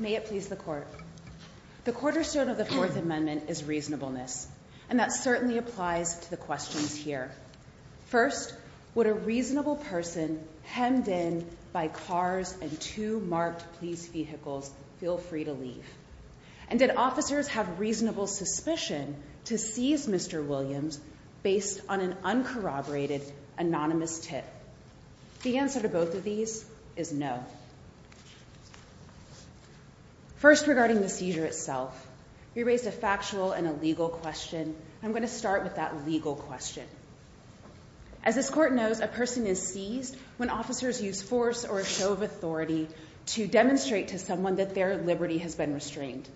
May it please the Court. The cornerstone of the Fourth Amendment is reasonableness. And that certainly applies to the questions here. First, would a reasonable person hemmed in by cars and two marked police vehicles feel free to leave? And did officers have reasonable suspicion to seize Mr. Williams based on an uncorroborated anonymous tip? The answer to both of these is no. First regarding the seizure itself, you raised a factual and a legal question. I'm going to start with that legal question. As this Court knows, a person is seized when officers use force or a show of authority to demonstrate to someone that their liberty has been restrained.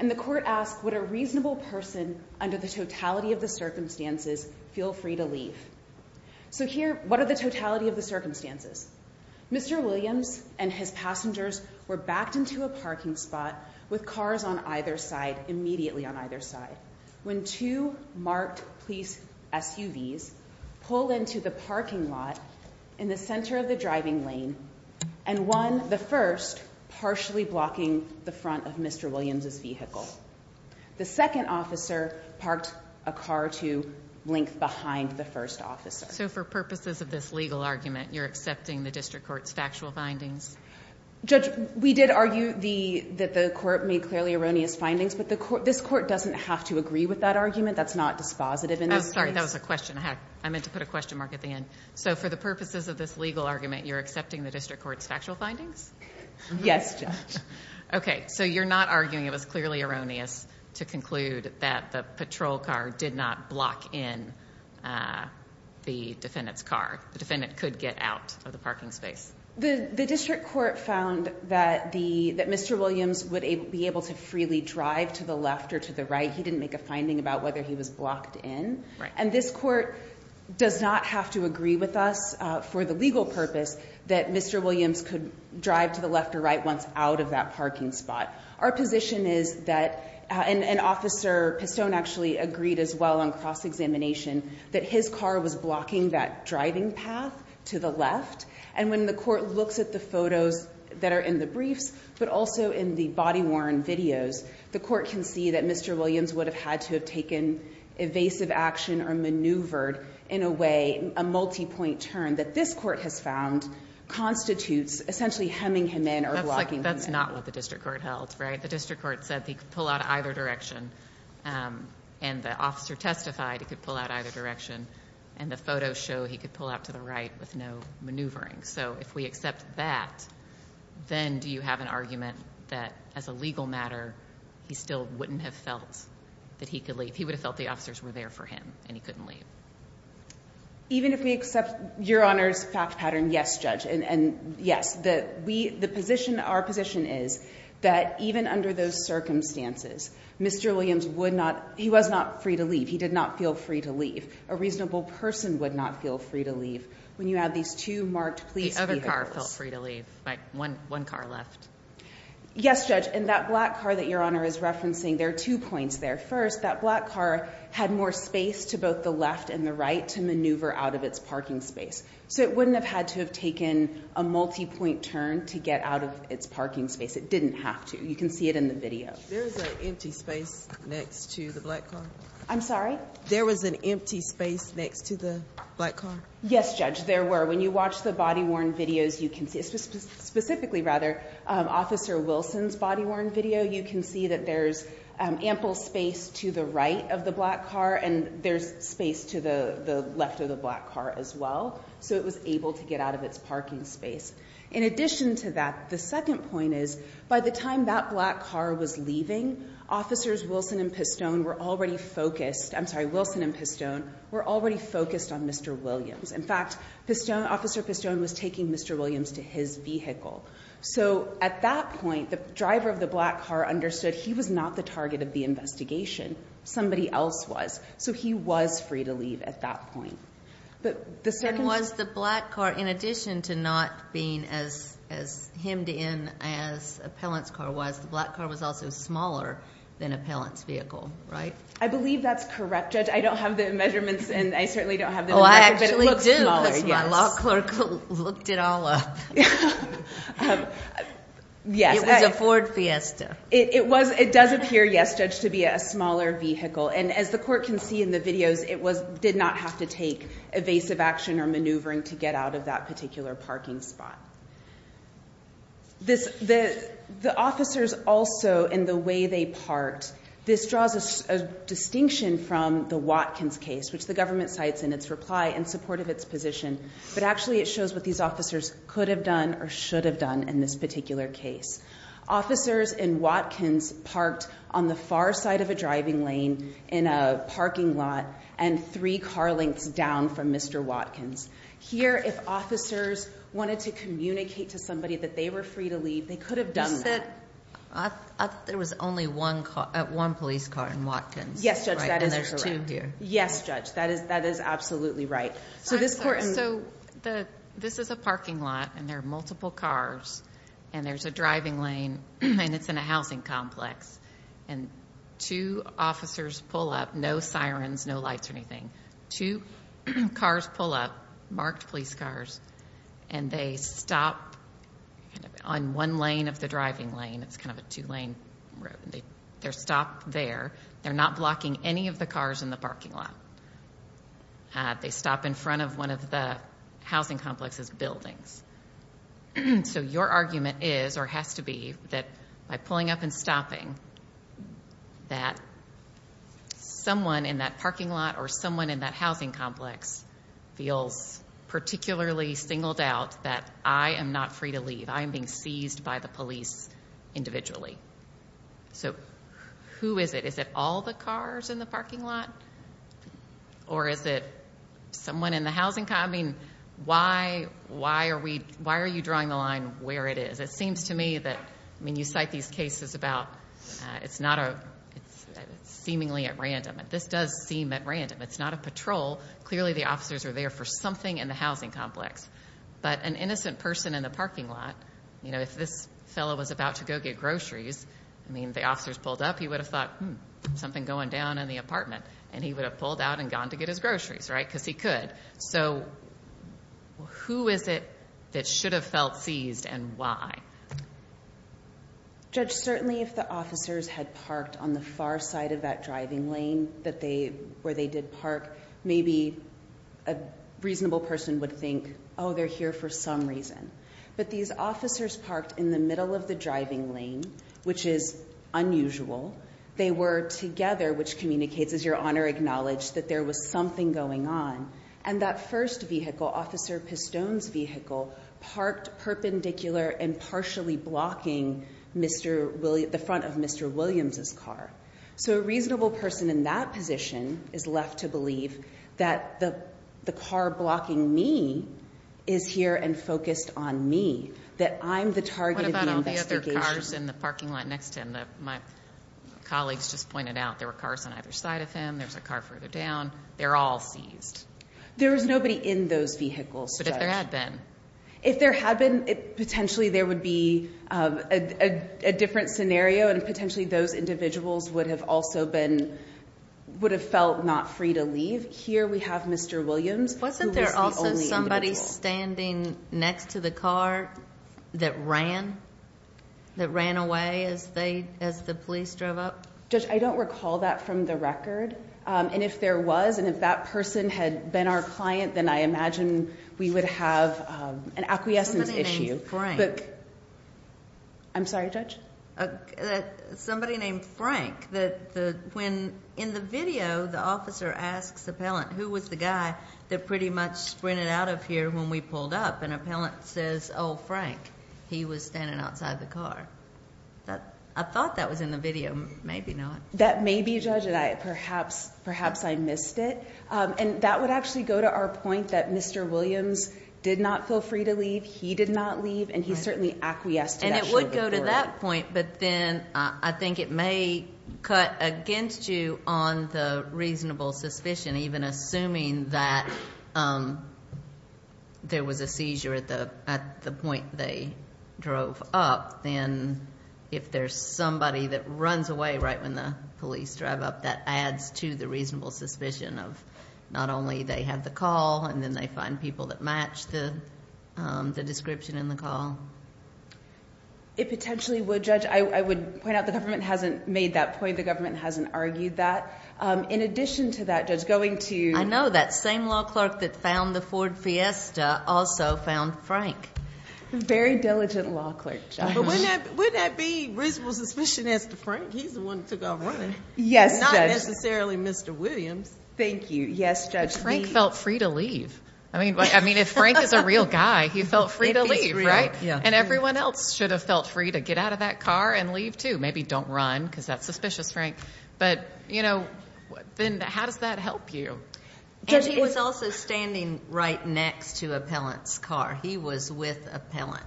And the Court asks, would a reasonable person under the totality of the circumstances feel free to leave? So here, what are the totality of the circumstances? Mr. Williams and his passengers were backed into a parking spot with cars on either side, immediately on either side. When two marked police SUVs pull into the parking lot in the center of the driving lane, and one, the first, partially blocking the front of Mr. Williams's vehicle. The second officer parked a car to length behind the first officer. So for purposes of this legal argument, you're accepting the district court's factual findings? Judge, we did argue that the court made clearly erroneous findings. But this court doesn't have to agree with that argument. That's not dispositive in this case. Oh, sorry. That was a question. I meant to put a question mark at the end. So for the purposes of this legal argument, you're accepting the district court's factual findings? Yes, Judge. Okay. So you're not arguing it was clearly erroneous to conclude that the patrol car did not block in the defendant's car. The defendant could get out of the parking space. The district court found that Mr. Williams would be able to freely drive to the left or to the right. He didn't make a finding about whether he was blocked in. And this court does not have to agree with us for the legal purpose that Mr. Williams could drive to the left or right once out of that parking spot. Our position is that, and Officer Pistone actually agreed as well on cross-examination, that his car was blocking that driving path to the left. And when the court looks at the photos that are in the briefs, but also in the body-worn videos, the court can see that Mr. Williams would have had to have taken evasive action or maneuvered in a way, a multi-point turn, that this court has found constitutes essentially hemming him in or blocking him in. That's not what the district court held, right? The district court said he could pull out either direction. And the officer testified he could pull out either direction. And the photos show he could pull out to the right with no maneuvering. So if we accept that, then do you have an argument that as a legal matter, he still wouldn't have felt that he could leave? He would have felt the officers were there for him and he couldn't leave. Even if we accept Your Honor's fact pattern, yes, Judge, and yes, the position, our position is that even under those circumstances, Mr. Williams would not, he was not free to leave. He did not feel free to leave. A reasonable person would not feel free to leave. When you have these two marked police vehicles. The other car felt free to leave, right? One car left. Yes, Judge. And that black car that Your Honor is referencing, there are two points there. First, that black car had more space to both the left and the right to maneuver out of its parking space. So it wouldn't have had to have taken a multi-point turn to get out of its parking space. It didn't have to. You can see it in the video. There is an empty space next to the black car. I'm sorry? There was an empty space next to the black car? Yes, Judge, there were. When you watch the body worn videos, you can see, specifically rather, Officer Wilson's body worn video, you can see that there's ample space to the right of the black car and there's space to the left of the black car as well. So it was able to get out of its parking space. In addition to that, the second point is, by the time that black car was leaving, Officers Wilson and Pistone were already focused, I'm sorry, Wilson and Pistone were already focused on Mr. Williams. In fact, Pistone, Officer Pistone was taking Mr. Williams to his vehicle. So at that point, the driver of the black car understood he was not the target of the investigation. Somebody else was. So he was free to leave at that point. But the second... And was the black car, in addition to not being as hemmed in as Appellant's car was, the black car was also smaller than Appellant's vehicle, right? I believe that's correct, Judge. I don't have the measurements and I certainly don't have the... Oh, I actually do. ...but it looks smaller, yes. Because my law clerk looked it all up. Yes. It was a Ford Fiesta. It was. It does appear, yes, Judge, to be a smaller vehicle. And as the court can see in the videos, it did not have to take evasive action or maneuvering to get out of that particular parking spot. The officers also, in the way they parked, this draws a distinction from the Watkins case, which the government cites in its reply in support of its position, but actually it shows what these officers could have done or should have done in this particular case. Officers in Watkins parked on the far side of a driving lane in a parking lot and three car lengths down from Mr. Watkins. Here, if officers wanted to communicate to somebody that they were free to leave, they could have done that. You said there was only one police car in Watkins, right? Yes, Judge, that is correct. And there's two here. Yes, Judge. That is absolutely right. So this court... So this is a parking lot and there are multiple cars and there's a driving lane and it's in a housing complex and two officers pull up, no sirens, no lights or anything, two cars pull up, marked police cars, and they stop on one lane of the driving lane. It's kind of a two lane road. They're stopped there. They're not blocking any of the cars in the parking lot. They stop in front of one of the housing complex's buildings. So your argument is or has to be that by pulling up and stopping that someone in that parking lot or someone in that housing complex feels particularly singled out that I am not free to leave. I am being seized by the police individually. So who is it? Is it all the cars in the parking lot? Or is it someone in the housing... I mean, why are you drawing the line where it is? It seems to me that... I mean, you cite these cases about it's seemingly at random. This does seem at random. It's not a patrol. Clearly, the officers are there for something in the housing complex, but an innocent person in the parking lot, you know, if this fellow was about to go get groceries, I mean, if the officers pulled up, he would have thought, hmm, something going down in the apartment and he would have pulled out and gone to get his groceries, right, because he could. So who is it that should have felt seized and why? Judge, certainly if the officers had parked on the far side of that driving lane where they did park, maybe a reasonable person would think, oh, they're here for some reason. But these officers parked in the middle of the driving lane, which is unusual. They were together, which communicates, as Your Honor acknowledged, that there was something going on. And that first vehicle, Officer Pistone's vehicle, parked perpendicular and partially blocking the front of Mr. Williams' car. So a reasonable person in that position is left to believe that the car blocking me is here and focused on me, that I'm the target of the investigation. What about all the other cars in the parking lot next to him? My colleagues just pointed out there were cars on either side of him. There's a car further down. They're all seized. There was nobody in those vehicles, Judge. But if there had been? If there had been, potentially there would be a different scenario, and potentially those individuals would have also been, would have felt not free to leave. Here we have Mr. Williams, who was the only individual. Wasn't there also somebody standing next to the car that ran, that ran away as the police drove up? Judge, I don't recall that from the record. And if there was, and if that person had been our client, then I imagine we would have an acquiescence issue. Somebody named Frank. I'm sorry, Judge? Somebody named Frank. When, in the video, the officer asks the appellant, who was the guy that pretty much sprinted out of here when we pulled up, and the appellant says, oh, Frank. He was standing outside the car. I thought that was in the video. Maybe not. That may be, Judge, and perhaps I missed it. And that would actually go to our point that Mr. Williams did not feel free to leave. He did not leave. And he certainly acquiesced to that short report. And it would go to that point, but then I think it may cut against you on the reasonable suspicion even assuming that there was a seizure at the point they drove up, then if there's somebody that runs away right when the police drive up, that adds to the reasonable suspicion of not only they have the call and then they find people that match the description in the call. It potentially would, Judge. I would point out the government hasn't made that point. The government hasn't argued that. In addition to that, Judge, going to... I know. That same law clerk that found the Ford Fiesta also found Frank. Very diligent law clerk, Judge. But wouldn't that be reasonable suspicion as to Frank? He's the one that took off running. Yes, Judge. Not necessarily Mr. Williams. Thank you. Yes, Judge, he... But Frank felt free to leave. I mean, if Frank is a real guy, he felt free to leave, right? And everyone else should have felt free to get out of that car and leave too. Maybe don't run because that's suspicious, Frank. But then how does that help you? And he was also standing right next to Appellant's car. He was with Appellant.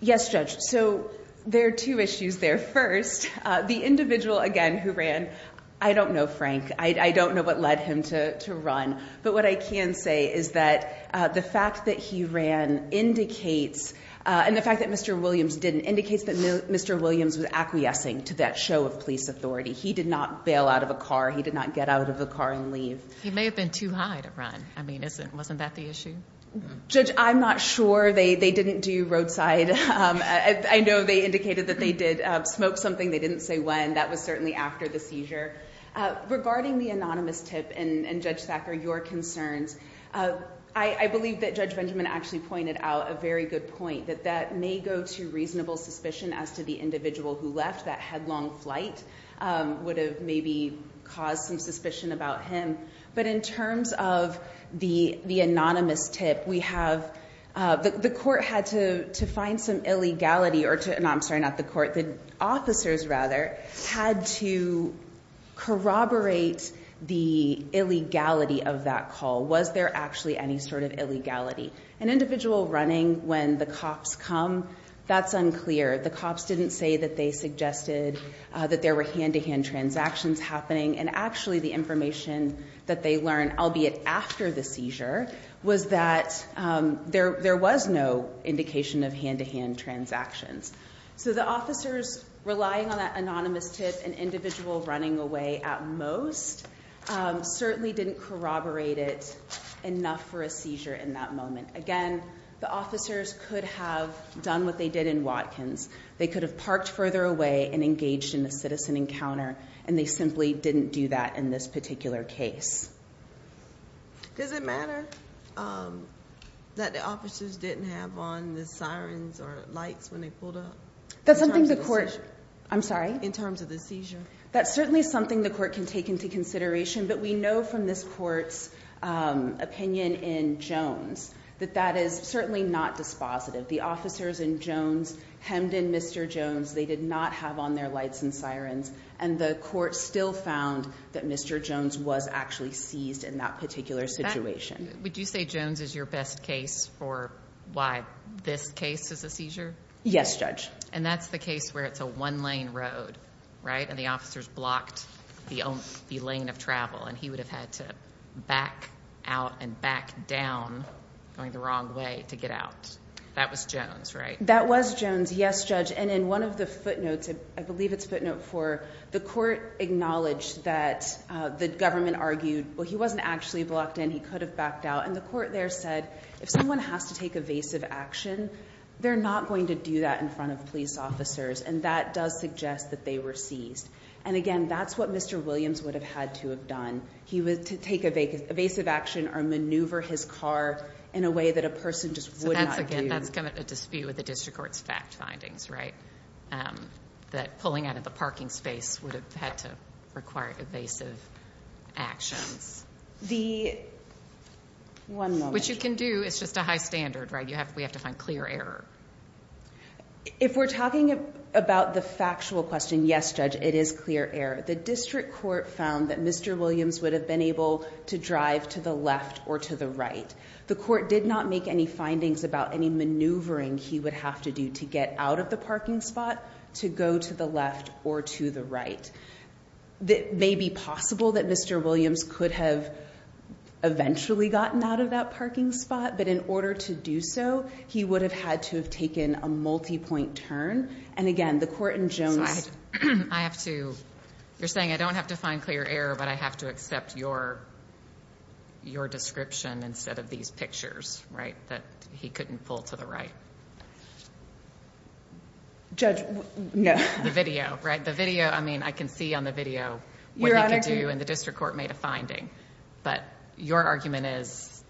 Yes, Judge. So there are two issues there. First, the individual, again, who ran... I don't know Frank. I don't know what led him to run. But what I can say is that the fact that he ran indicates... and the fact that Mr. Williams didn't... indicates that Mr. Williams was acquiescing to that show of police authority. He did not bail out of a car. He did not get out of a car and leave. He may have been too high to run. I mean, wasn't that the issue? Judge, I'm not sure. They didn't do roadside. I know they indicated that they did smoke something. They didn't say when. That was certainly after the seizure. Regarding the anonymous tip and, Judge Thacker, your concerns, I believe that Judge Benjamin actually pointed out a very good point, that that may go to reasonable suspicion as to the individual who left. That headlong flight would have maybe caused some suspicion about him. But in terms of the anonymous tip, we have... The court had to find some illegality... I'm sorry, not the court. The officers, rather, had to corroborate the illegality of that call. Was there actually any sort of illegality? An individual running when the cops come, that's unclear. The cops didn't say that they suggested that there were hand-to-hand transactions happening. And, actually, the information that they learned, albeit after the seizure, was that there was no indication of hand-to-hand transactions. So the officers relying on that anonymous tip, an individual running away at most, certainly didn't corroborate it enough for a seizure in that moment. Again, the officers could have done what they did in Watkins. They could have parked further away and engaged in a citizen encounter, and they simply didn't do that in this particular case. Does it matter that the officers didn't have on the sirens or lights when they pulled up? That's something the court... I'm sorry? In terms of the seizure. That's certainly something the court can take into consideration, but we know from this court's opinion in Jones that that is certainly not dispositive. The officers in Jones hemmed in, they did not have on their lights and sirens, and the court still found that Mr. Jones was actually seized in that particular situation. Would you say Jones is your best case for why this case is a seizure? Yes, Judge. And that's the case where it's a one-lane road, right? And the officers blocked the lane of travel, and he would have had to back out and back down going the wrong way to get out. That was Jones, right? That was Jones, yes, Judge. And in one of the footnotes, I believe it's footnote four, the court acknowledged that the government argued, well, he wasn't actually blocked in, he could have backed out, and the court there said if someone has to take evasive action, they're not going to do that in front of police officers, and that does suggest that they were seized. And, again, that's what Mr. Williams would have had to have done. He would take evasive action or maneuver his car in a way that a person just would not do. And that's come at a dispute with the district court's fact findings, right? That pulling out of the parking space would have had to require evasive actions. The one moment. Which you can do. It's just a high standard, right? We have to find clear error. If we're talking about the factual question, yes, Judge, it is clear error. The district court found that Mr. Williams would have been able to drive to the left or to the right. The court did not make any findings about any maneuvering he would have to do to get out of the parking spot, to go to the left or to the right. It may be possible that Mr. Williams could have eventually gotten out of that parking spot, but in order to do so, he would have had to have taken a multipoint turn. And, again, the court in Jones. I have to. You're saying I don't have to find clear error, but I have to accept your description instead of these pictures, right? That he couldn't pull to the right. Judge, no. The video, right? The video, I mean, I can see on the video what he could do, and the district court made a finding. But your argument is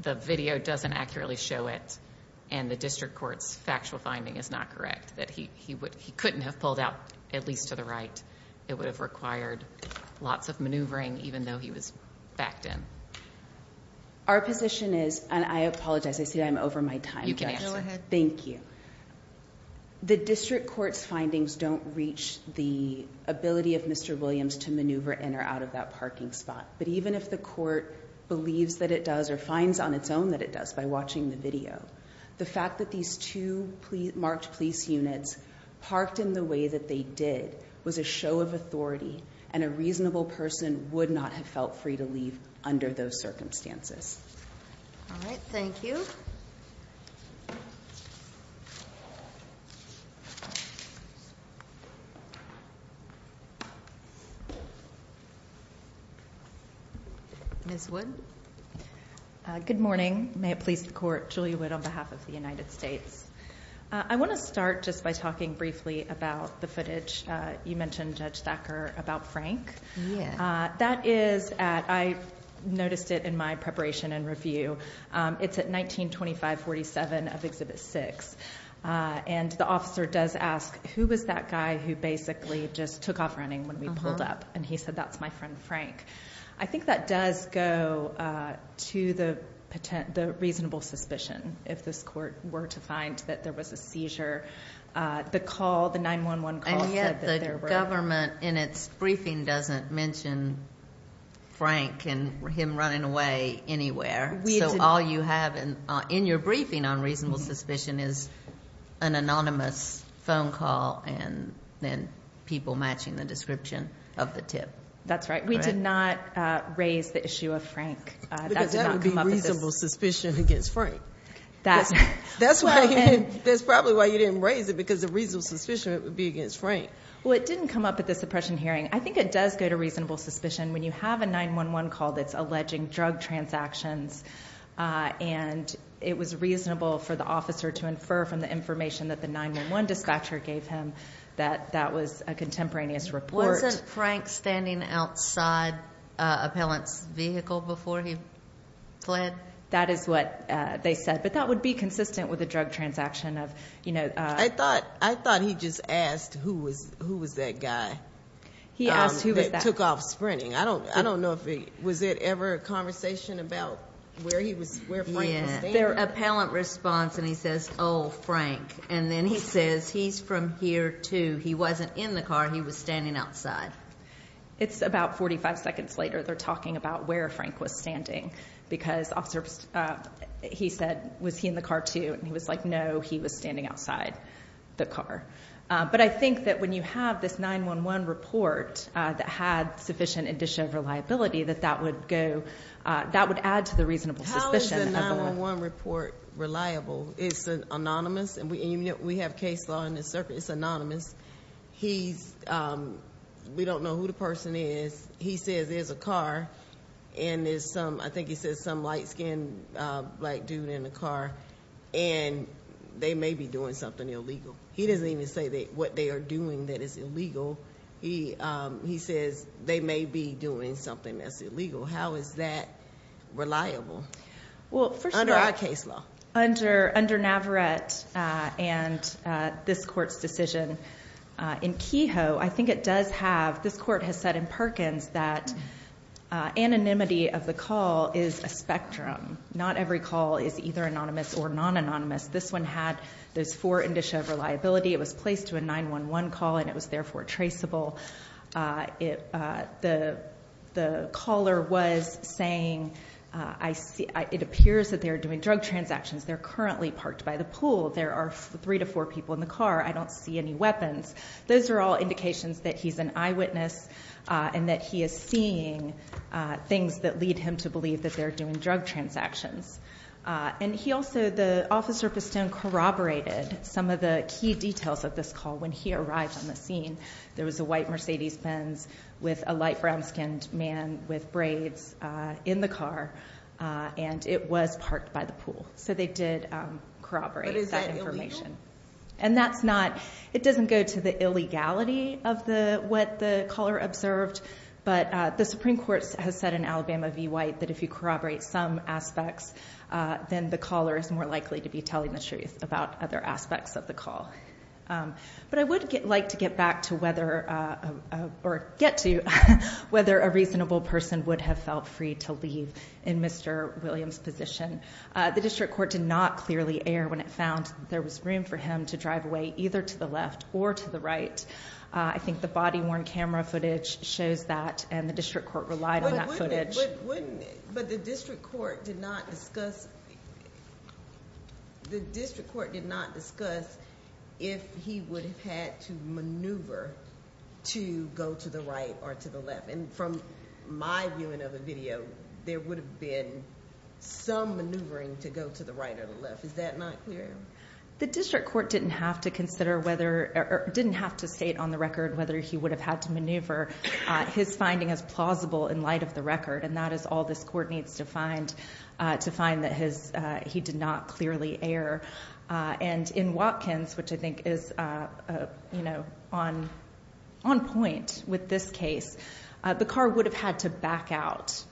the video doesn't accurately show it, and the district court's factual finding is not correct, that he couldn't have pulled out at least to the right. It would have required lots of maneuvering, even though he was backed in. Our position is, and I apologize, I see I'm over my time. You can answer. Thank you. The district court's findings don't reach the ability of Mr. Williams to maneuver in or out of that parking spot. But even if the court believes that it does or finds on its own that it does by watching the video, the fact that these two marked police units parked in the way that they did was a show of authority. And a reasonable person would not have felt free to leave under those circumstances. All right, thank you. Ms. Wood? Good morning. May it please the court, Julia Wood on behalf of the United States. I want to start just by talking briefly about the footage. You mentioned Judge Thacker about Frank. That is at, I noticed it in my preparation and review, it's at 1925-47 of Exhibit 6. And the officer does ask, who was that guy who basically just took off running when we pulled up? And he said, that's my friend Frank. I think that does go to the reasonable suspicion, if this court were to find that there was a seizure. The call, the 911 call said that there were. And yet the government in its briefing doesn't mention Frank and him running away anywhere. So all you have in your briefing on reasonable suspicion is an anonymous phone call, and then people matching the description of the tip. That's right. We did not raise the issue of Frank. Because that would be reasonable suspicion against Frank. That's probably why you didn't raise it, because the reasonable suspicion would be against Frank. Well, it didn't come up at the suppression hearing. I think it does go to reasonable suspicion when you have a 911 call that's alleging drug transactions and it was reasonable for the officer to infer from the information that the 911 dispatcher gave him that that was a contemporaneous report. Wasn't Frank standing outside Appellant's vehicle before he fled? That is what they said. But that would be consistent with a drug transaction of, you know. I thought he just asked who was that guy that took off sprinting. I don't know if it was ever a conversation about where Frank was standing. Yeah. Their appellant responds and he says, oh, Frank. And then he says he's from here, too. He wasn't in the car. He was standing outside. It's about 45 seconds later they're talking about where Frank was standing. Because he said, was he in the car, too? And he was like, no, he was standing outside the car. But I think that when you have this 911 report that had sufficient indicia of reliability, that that would add to the reasonable suspicion. How is the 911 report reliable? It's anonymous, and we have case law in this circuit. It's anonymous. We don't know who the person is. He says there's a car and there's some, I think he says some light-skinned black dude in the car. And they may be doing something illegal. He doesn't even say what they are doing that is illegal. He says they may be doing something that's illegal. How is that reliable? Well, for sure. Under our case law. Under Navarrete and this court's decision in Kehoe, I think it does have, this court has said in Perkins that anonymity of the call is a spectrum. Not every call is either anonymous or non-anonymous. This one had those four indicia of reliability. It was placed to a 911 call, and it was therefore traceable. The caller was saying, it appears that they are doing drug transactions. They're currently parked by the pool. There are three to four people in the car. I don't see any weapons. Those are all indications that he's an eyewitness and that he is seeing things that lead him to believe that they're doing drug transactions. And he also, the officer corroborated some of the key details of this call when he arrived on the scene. There was a white Mercedes Benz with a light brown-skinned man with braids in the car, and it was parked by the pool. So they did corroborate that information. And that's not, it doesn't go to the illegality of what the caller observed, but the Supreme Court has said in Alabama v. White that if you corroborate some aspects, then the caller is more likely to be telling the truth about other aspects of the call. But I would like to get back to whether, or get to, whether a reasonable person would have felt free to leave in Mr. Williams' position. The district court did not clearly err when it found there was room for him to drive away either to the left or to the right. I think the body-worn camera footage shows that, and the district court relied on that footage. But wouldn't it, but the district court did not discuss, the district court did not discuss if he would have had to maneuver to go to the right or to the left. And from my viewing of the video, there would have been some maneuvering to go to the right or the left. Is that not clear? The district court didn't have to consider whether, or didn't have to state on the record whether he would have had to maneuver. His finding is plausible in light of the record, and that is all this court needs to find, to find that he did not clearly err. And in Watkins, which I think is on point with this case, the car would have had to back out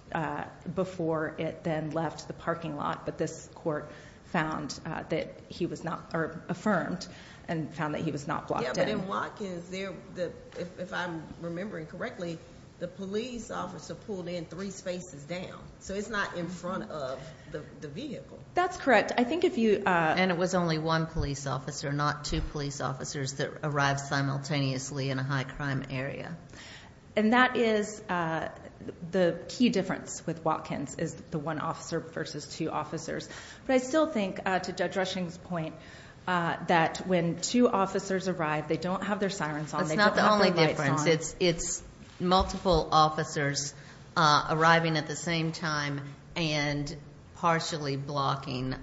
before it then left the parking lot. But this court found that he was not, or affirmed, and found that he was not blocked in. Yeah, but in Watkins, if I'm remembering correctly, the police officer pulled in three spaces down. So it's not in front of the vehicle. That's correct. I think if you- And it was only one police officer, not two police officers that arrived simultaneously in a high crime area. And that is the key difference with Watkins, is the one officer versus two officers. But I still think, to Judge Rushing's point, that when two officers arrive, they don't have their sirens on. They don't have their lights on. Because it's multiple officers arriving at the same time and partially blocking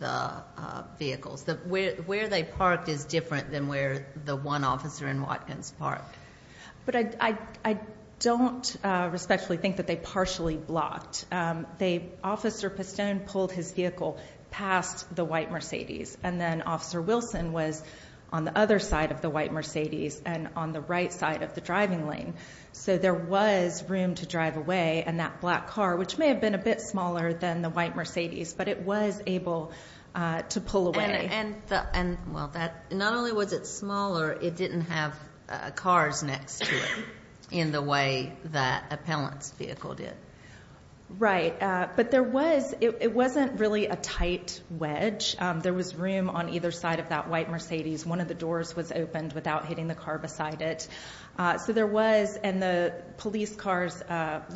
the vehicles. Where they parked is different than where the one officer in Watkins parked. But I don't respectfully think that they partially blocked. Officer Pistone pulled his vehicle past the white Mercedes, and then Officer Wilson was on the other side of the white Mercedes and on the right side of the driving lane. So there was room to drive away, and that black car, which may have been a bit smaller than the white Mercedes, but it was able to pull away. And, well, not only was it smaller, it didn't have cars next to it in the way that Appellant's vehicle did. Right. But there was, it wasn't really a tight wedge. There was room on either side of that white Mercedes. One of the doors was opened without hitting the car beside it. So there was, and the police cars,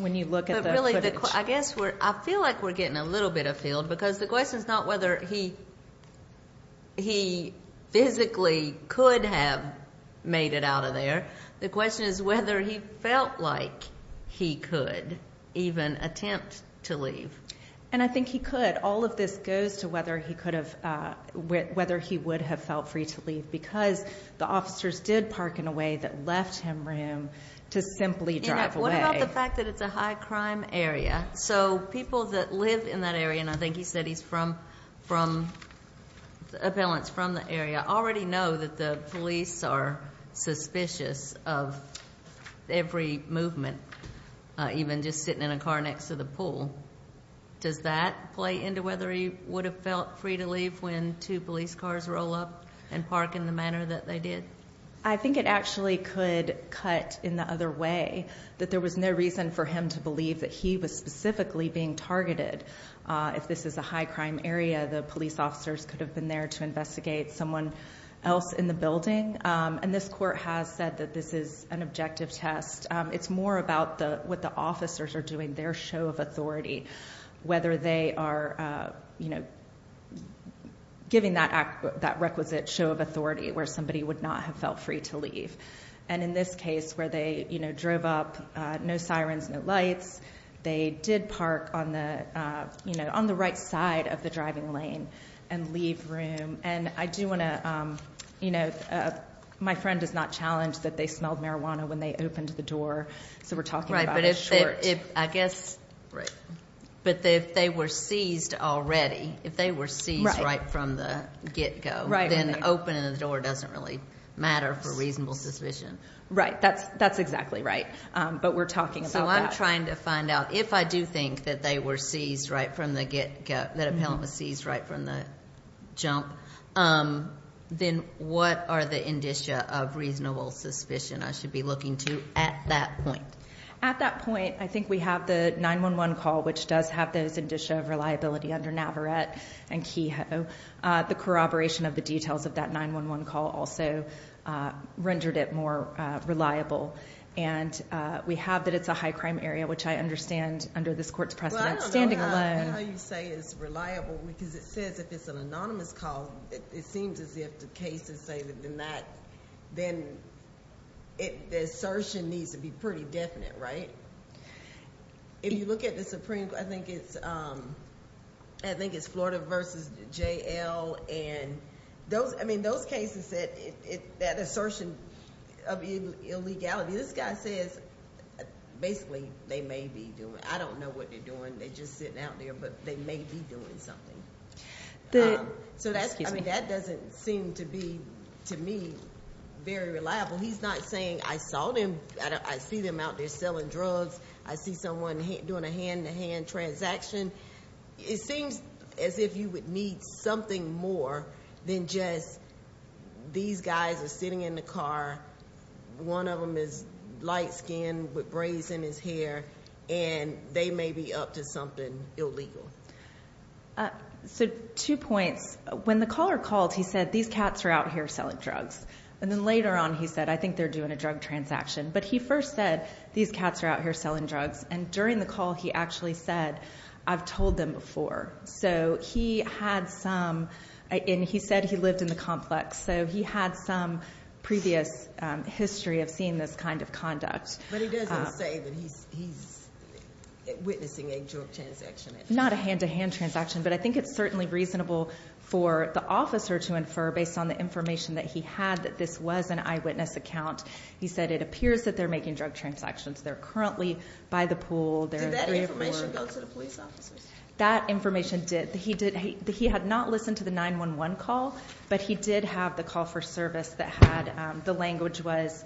when you look at the footage. But really, I guess we're, I feel like we're getting a little bit afield, because the question is not whether he physically could have made it out of there. The question is whether he felt like he could even attempt to leave. And I think he could. But all of this goes to whether he could have, whether he would have felt free to leave, because the officers did park in a way that left him room to simply drive away. What about the fact that it's a high crime area? So people that live in that area, and I think he said he's from, Appellant's from the area, already know that the police are suspicious of every movement, even just sitting in a car next to the pool. Does that play into whether he would have felt free to leave when two police cars roll up and park in the manner that they did? I think it actually could cut in the other way, that there was no reason for him to believe that he was specifically being targeted. If this is a high crime area, the police officers could have been there to investigate someone else in the building. And this court has said that this is an objective test. It's more about what the officers are doing, their show of authority, whether they are giving that requisite show of authority where somebody would not have felt free to leave. And in this case, where they drove up, no sirens, no lights, they did park on the right side of the driving lane and leave room. And I do want to, you know, my friend does not challenge that they smelled marijuana when they opened the door. So we're talking about a short- Right, but if they were seized already, if they were seized right from the get-go, then opening the door doesn't really matter for reasonable suspicion. Right, that's exactly right. But we're talking about that. I'm trying to find out, if I do think that they were seized right from the get-go, that an appellant was seized right from the jump, then what are the indicia of reasonable suspicion I should be looking to at that point? At that point, I think we have the 911 call, which does have those indicia of reliability under Navarette and Kehoe. The corroboration of the details of that 911 call also rendered it more reliable. And we have that it's a high-crime area, which I understand, under this court's precedent, standing alone- Well, I don't know how you say it's reliable because it says if it's an anonymous call, it seems as if the case is stated in that, then the assertion needs to be pretty definite, right? If you look at the Supreme Court, I think it's Florida v. J.L. I mean, those cases that assertion of illegality, this guy says, basically, they may be doing it. I don't know what they're doing. They're just sitting out there, but they may be doing something. So that doesn't seem to be, to me, very reliable. He's not saying I saw them, I see them out there selling drugs, I see someone doing a hand-in-hand transaction. It seems as if you would need something more than just these guys are sitting in the car, one of them is light-skinned with braids in his hair, and they may be up to something illegal. So two points. When the caller called, he said, these cats are out here selling drugs. And then later on, he said, I think they're doing a drug transaction. But he first said, these cats are out here selling drugs. And during the call, he actually said, I've told them before. So he had some, and he said he lived in the complex. So he had some previous history of seeing this kind of conduct. But he doesn't say that he's witnessing a drug transaction. Not a hand-to-hand transaction, but I think it's certainly reasonable for the officer to infer, based on the information that he had, that this was an eyewitness account. He said it appears that they're making drug transactions. They're currently by the pool. Did that information go to the police officers? That information did. He had not listened to the 911 call, but he did have the call for service that had, the language was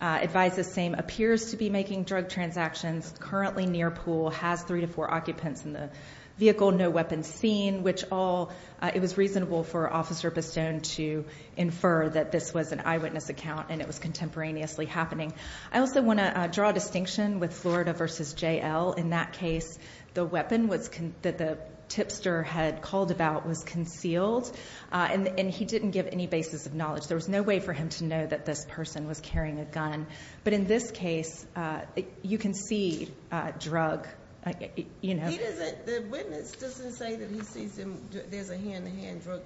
advised the same, appears to be making drug transactions, currently near pool, has three to four occupants in the vehicle, no weapons seen, which all, it was reasonable for Officer Pistone to infer that this was an eyewitness account, and it was contemporaneously happening. I also want to draw a distinction with Florida v. J.L. In that case, the weapon that the tipster had called about was concealed, and he didn't give any basis of knowledge. There was no way for him to know that this person was carrying a gun. But in this case, you can see drug, you know. The witness doesn't say that he sees there's a hand-to-hand drug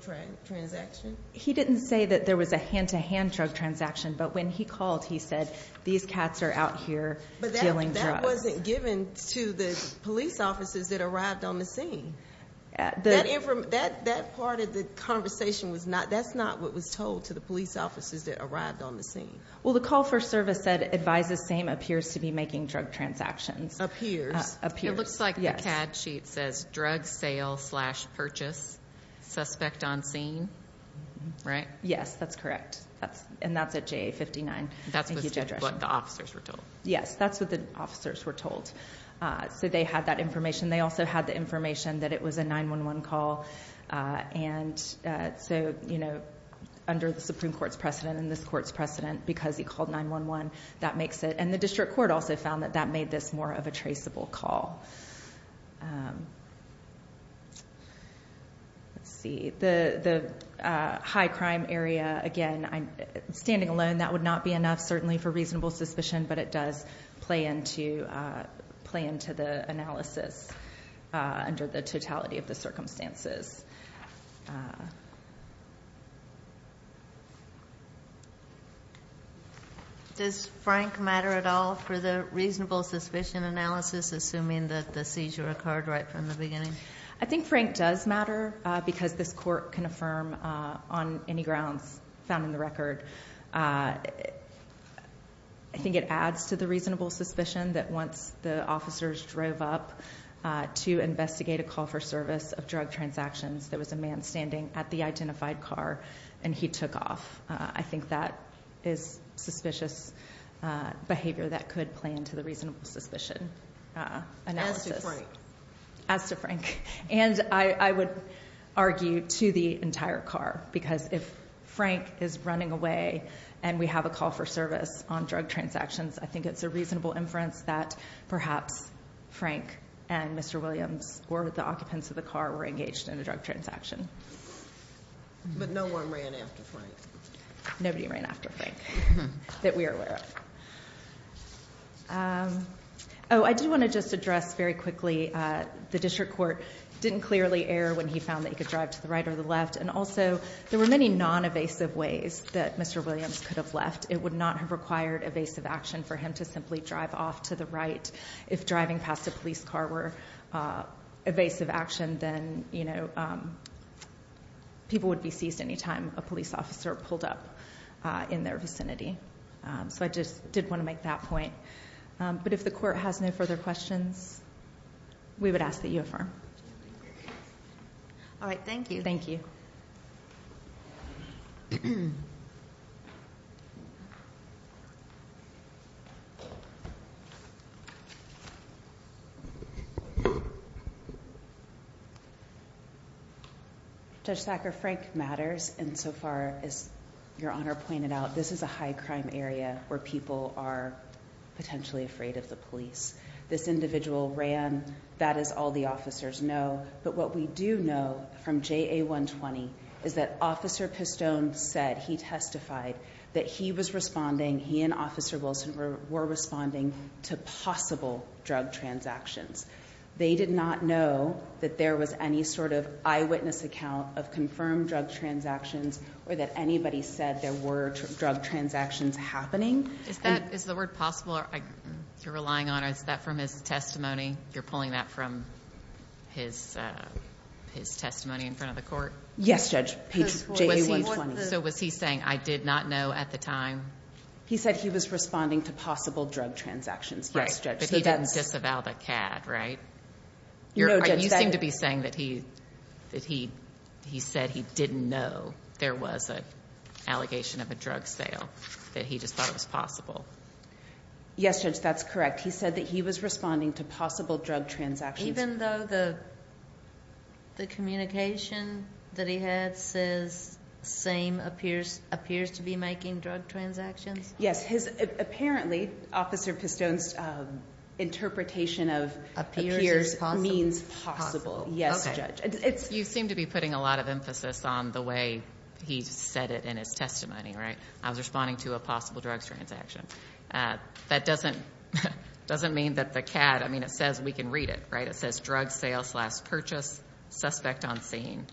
transaction? He didn't say that there was a hand-to-hand drug transaction, but when he called, he said, these cats are out here dealing drugs. But that wasn't given to the police officers that arrived on the scene. That part of the conversation was not, that's not what was told to the police officers that arrived on the scene. Well, the call for service said advised the same, appears to be making drug transactions. Appears. It looks like the CAD sheet says drug sale slash purchase, suspect on scene, right? Yes, that's correct. And that's at JA 59. That's what the officers were told. Yes, that's what the officers were told. So they had that information. They also had the information that it was a 911 call. And so, you know, under the Supreme Court's precedent and this court's precedent, because he called 911, that makes it, and the district court also found that that made this more of a traceable call. Let's see, the high crime area, again, standing alone, that would not be enough certainly for reasonable suspicion, but it does play into the analysis under the totality of the circumstances. Does Frank matter at all for the reasonable suspicion analysis, assuming that the seizure occurred right from the beginning? I think Frank does matter because this court can affirm on any grounds found in the record. I think it adds to the reasonable suspicion that once the officers drove up to investigate a call for service of drug transactions, there was a man standing at the identified car and he took off. I think that is suspicious behavior that could play into the reasonable suspicion analysis. As to Frank. And I would argue to the entire car, because if Frank is running away and we have a call for service on drug transactions, I think it's a reasonable inference that perhaps Frank and Mr. Williams or the occupants of the car were engaged in a drug transaction. But no one ran after Frank. Nobody ran after Frank that we are aware of. I do want to just address very quickly, the district court didn't clearly err when he found that he could drive to the right or the left, and also there were many non-evasive ways that Mr. Williams could have left. It would not have required evasive action for him to simply drive off to the right if driving past a police car were evasive action, then people would be seized any time a police officer pulled up in their vicinity. So I just did want to make that point. But if the court has no further questions, we would ask that you affirm. All right. Thank you. Thank you. Judge Thacker, Frank matters. And so far, as Your Honor pointed out, this is a high-crime area where people are potentially afraid of the police. This individual ran. That is all the officers know. But what we do know from JA120 is that Officer Pistone said, he testified, that he was responding, he and Officer Wilson were responding to possible drug transactions. They did not know that there was any sort of eyewitness account of confirmed drug transactions or that anybody said there were drug transactions happening. Is the word possible? You're relying on, is that from his testimony? You're pulling that from his testimony in front of the court? Yes, Judge. So was he saying, I did not know at the time? He said he was responding to possible drug transactions. Yes, Judge. But he didn't disavow the CAD, right? You seem to be saying that he said he didn't know there was an allegation of a drug sale, that he just thought it was possible. Yes, Judge, that's correct. He said that he was responding to possible drug transactions. Even though the communication that he had says, same, appears to be making drug transactions? Yes, apparently, Officer Pistone's interpretation of appears means possible. Yes, Judge. You seem to be putting a lot of emphasis on the way he said it in his testimony, right? I was responding to a possible drug transaction. That doesn't mean that the CAD, I mean, it says we can read it, right? It says drug sales last purchased, suspect on scene.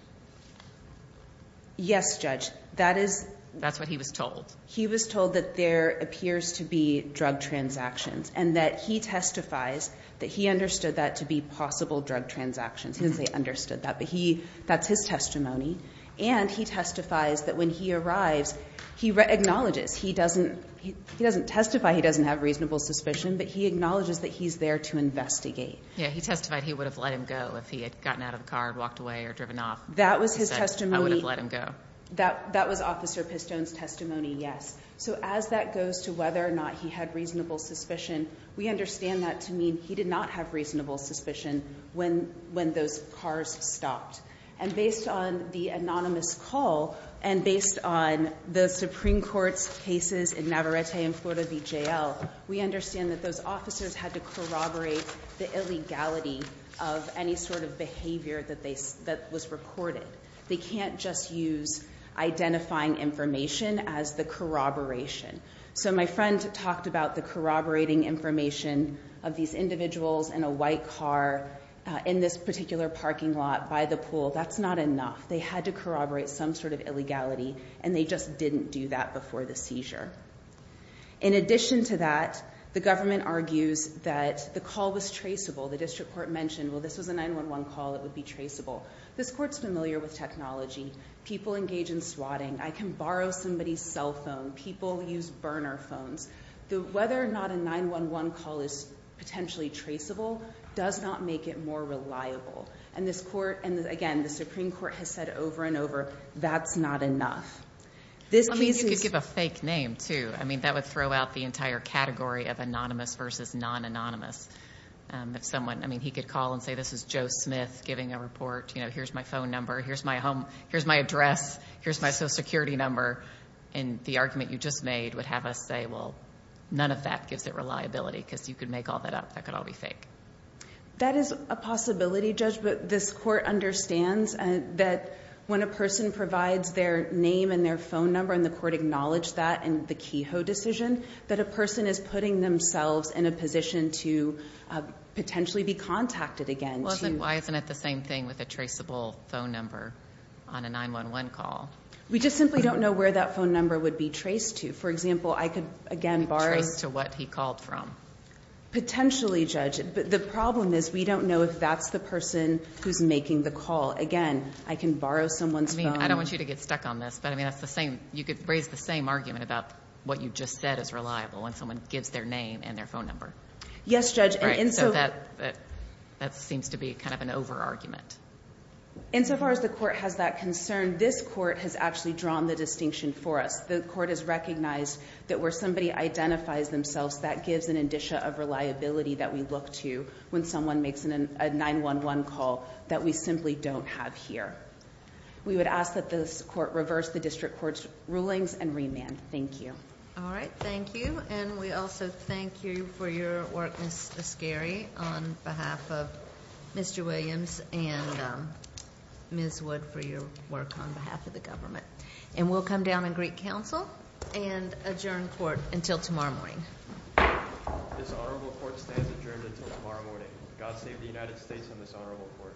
Yes, Judge. That's what he was told. He was told that there appears to be drug transactions and that he testifies that he understood that to be possible drug transactions. He didn't say understood that, but that's his testimony. And he testifies that when he arrives, he acknowledges, he doesn't testify he doesn't have reasonable suspicion, but he acknowledges that he's there to investigate. Yes, he testified he would have let him go if he had gotten out of the car and walked away or driven off. That was his testimony. He said, I would have let him go. That was Officer Pistone's testimony, yes. So as that goes to whether or not he had reasonable suspicion, we understand that to mean he did not have reasonable suspicion when those cars stopped. And based on the anonymous call and based on the Supreme Court's cases in Navarrete and Florida v. JL, we understand that those officers had to corroborate the illegality of any sort of behavior that was recorded. They can't just use identifying information as the corroboration. So my friend talked about the corroborating information of these individuals in a white car in this particular parking lot by the pool. That's not enough. They had to corroborate some sort of illegality, and they just didn't do that before the seizure. In addition to that, the government argues that the call was traceable. The district court mentioned, well, this was a 911 call. It would be traceable. This court's familiar with technology. People engage in swatting. I can borrow somebody's cell phone. People use burner phones. Whether or not a 911 call is potentially traceable does not make it more reliable. And this court and, again, the Supreme Court has said over and over, that's not enough. I mean, you could give a fake name, too. I mean, that would throw out the entire category of anonymous versus non-anonymous. I mean, he could call and say this is Joe Smith giving a report. You know, here's my phone number. Here's my address. Here's my Social Security number. And the argument you just made would have us say, well, none of that gives it reliability because you could make all that up. That could all be fake. That is a possibility, Judge. But this court understands that when a person provides their name and their phone number, and the court acknowledged that in the Kehoe decision, that a person is putting themselves in a position to potentially be contacted again. Well, then why isn't it the same thing with a traceable phone number on a 911 call? We just simply don't know where that phone number would be traced to. For example, I could, again, borrow. Trace to what he called from. Potentially, Judge. But the problem is we don't know if that's the person who's making the call. Again, I can borrow someone's phone. I mean, I don't want you to get stuck on this. But, I mean, you could raise the same argument about what you just said is reliable when someone gives their name and their phone number. Yes, Judge. So that seems to be kind of an over-argument. Insofar as the court has that concern, this court has actually drawn the distinction for us. The court has recognized that where somebody identifies themselves, that gives an indicia of reliability that we look to when someone makes a 911 call that we simply don't have here. We would ask that this court reverse the district court's rulings and remand. Thank you. All right. Thank you. And we also thank you for your work, Ms. Ascari, on behalf of Mr. Williams and Ms. Wood for your work on behalf of the government. And we'll come down in Greek Council and adjourn court until tomorrow morning. This honorable court stands adjourned until tomorrow morning. God save the United States and this honorable court.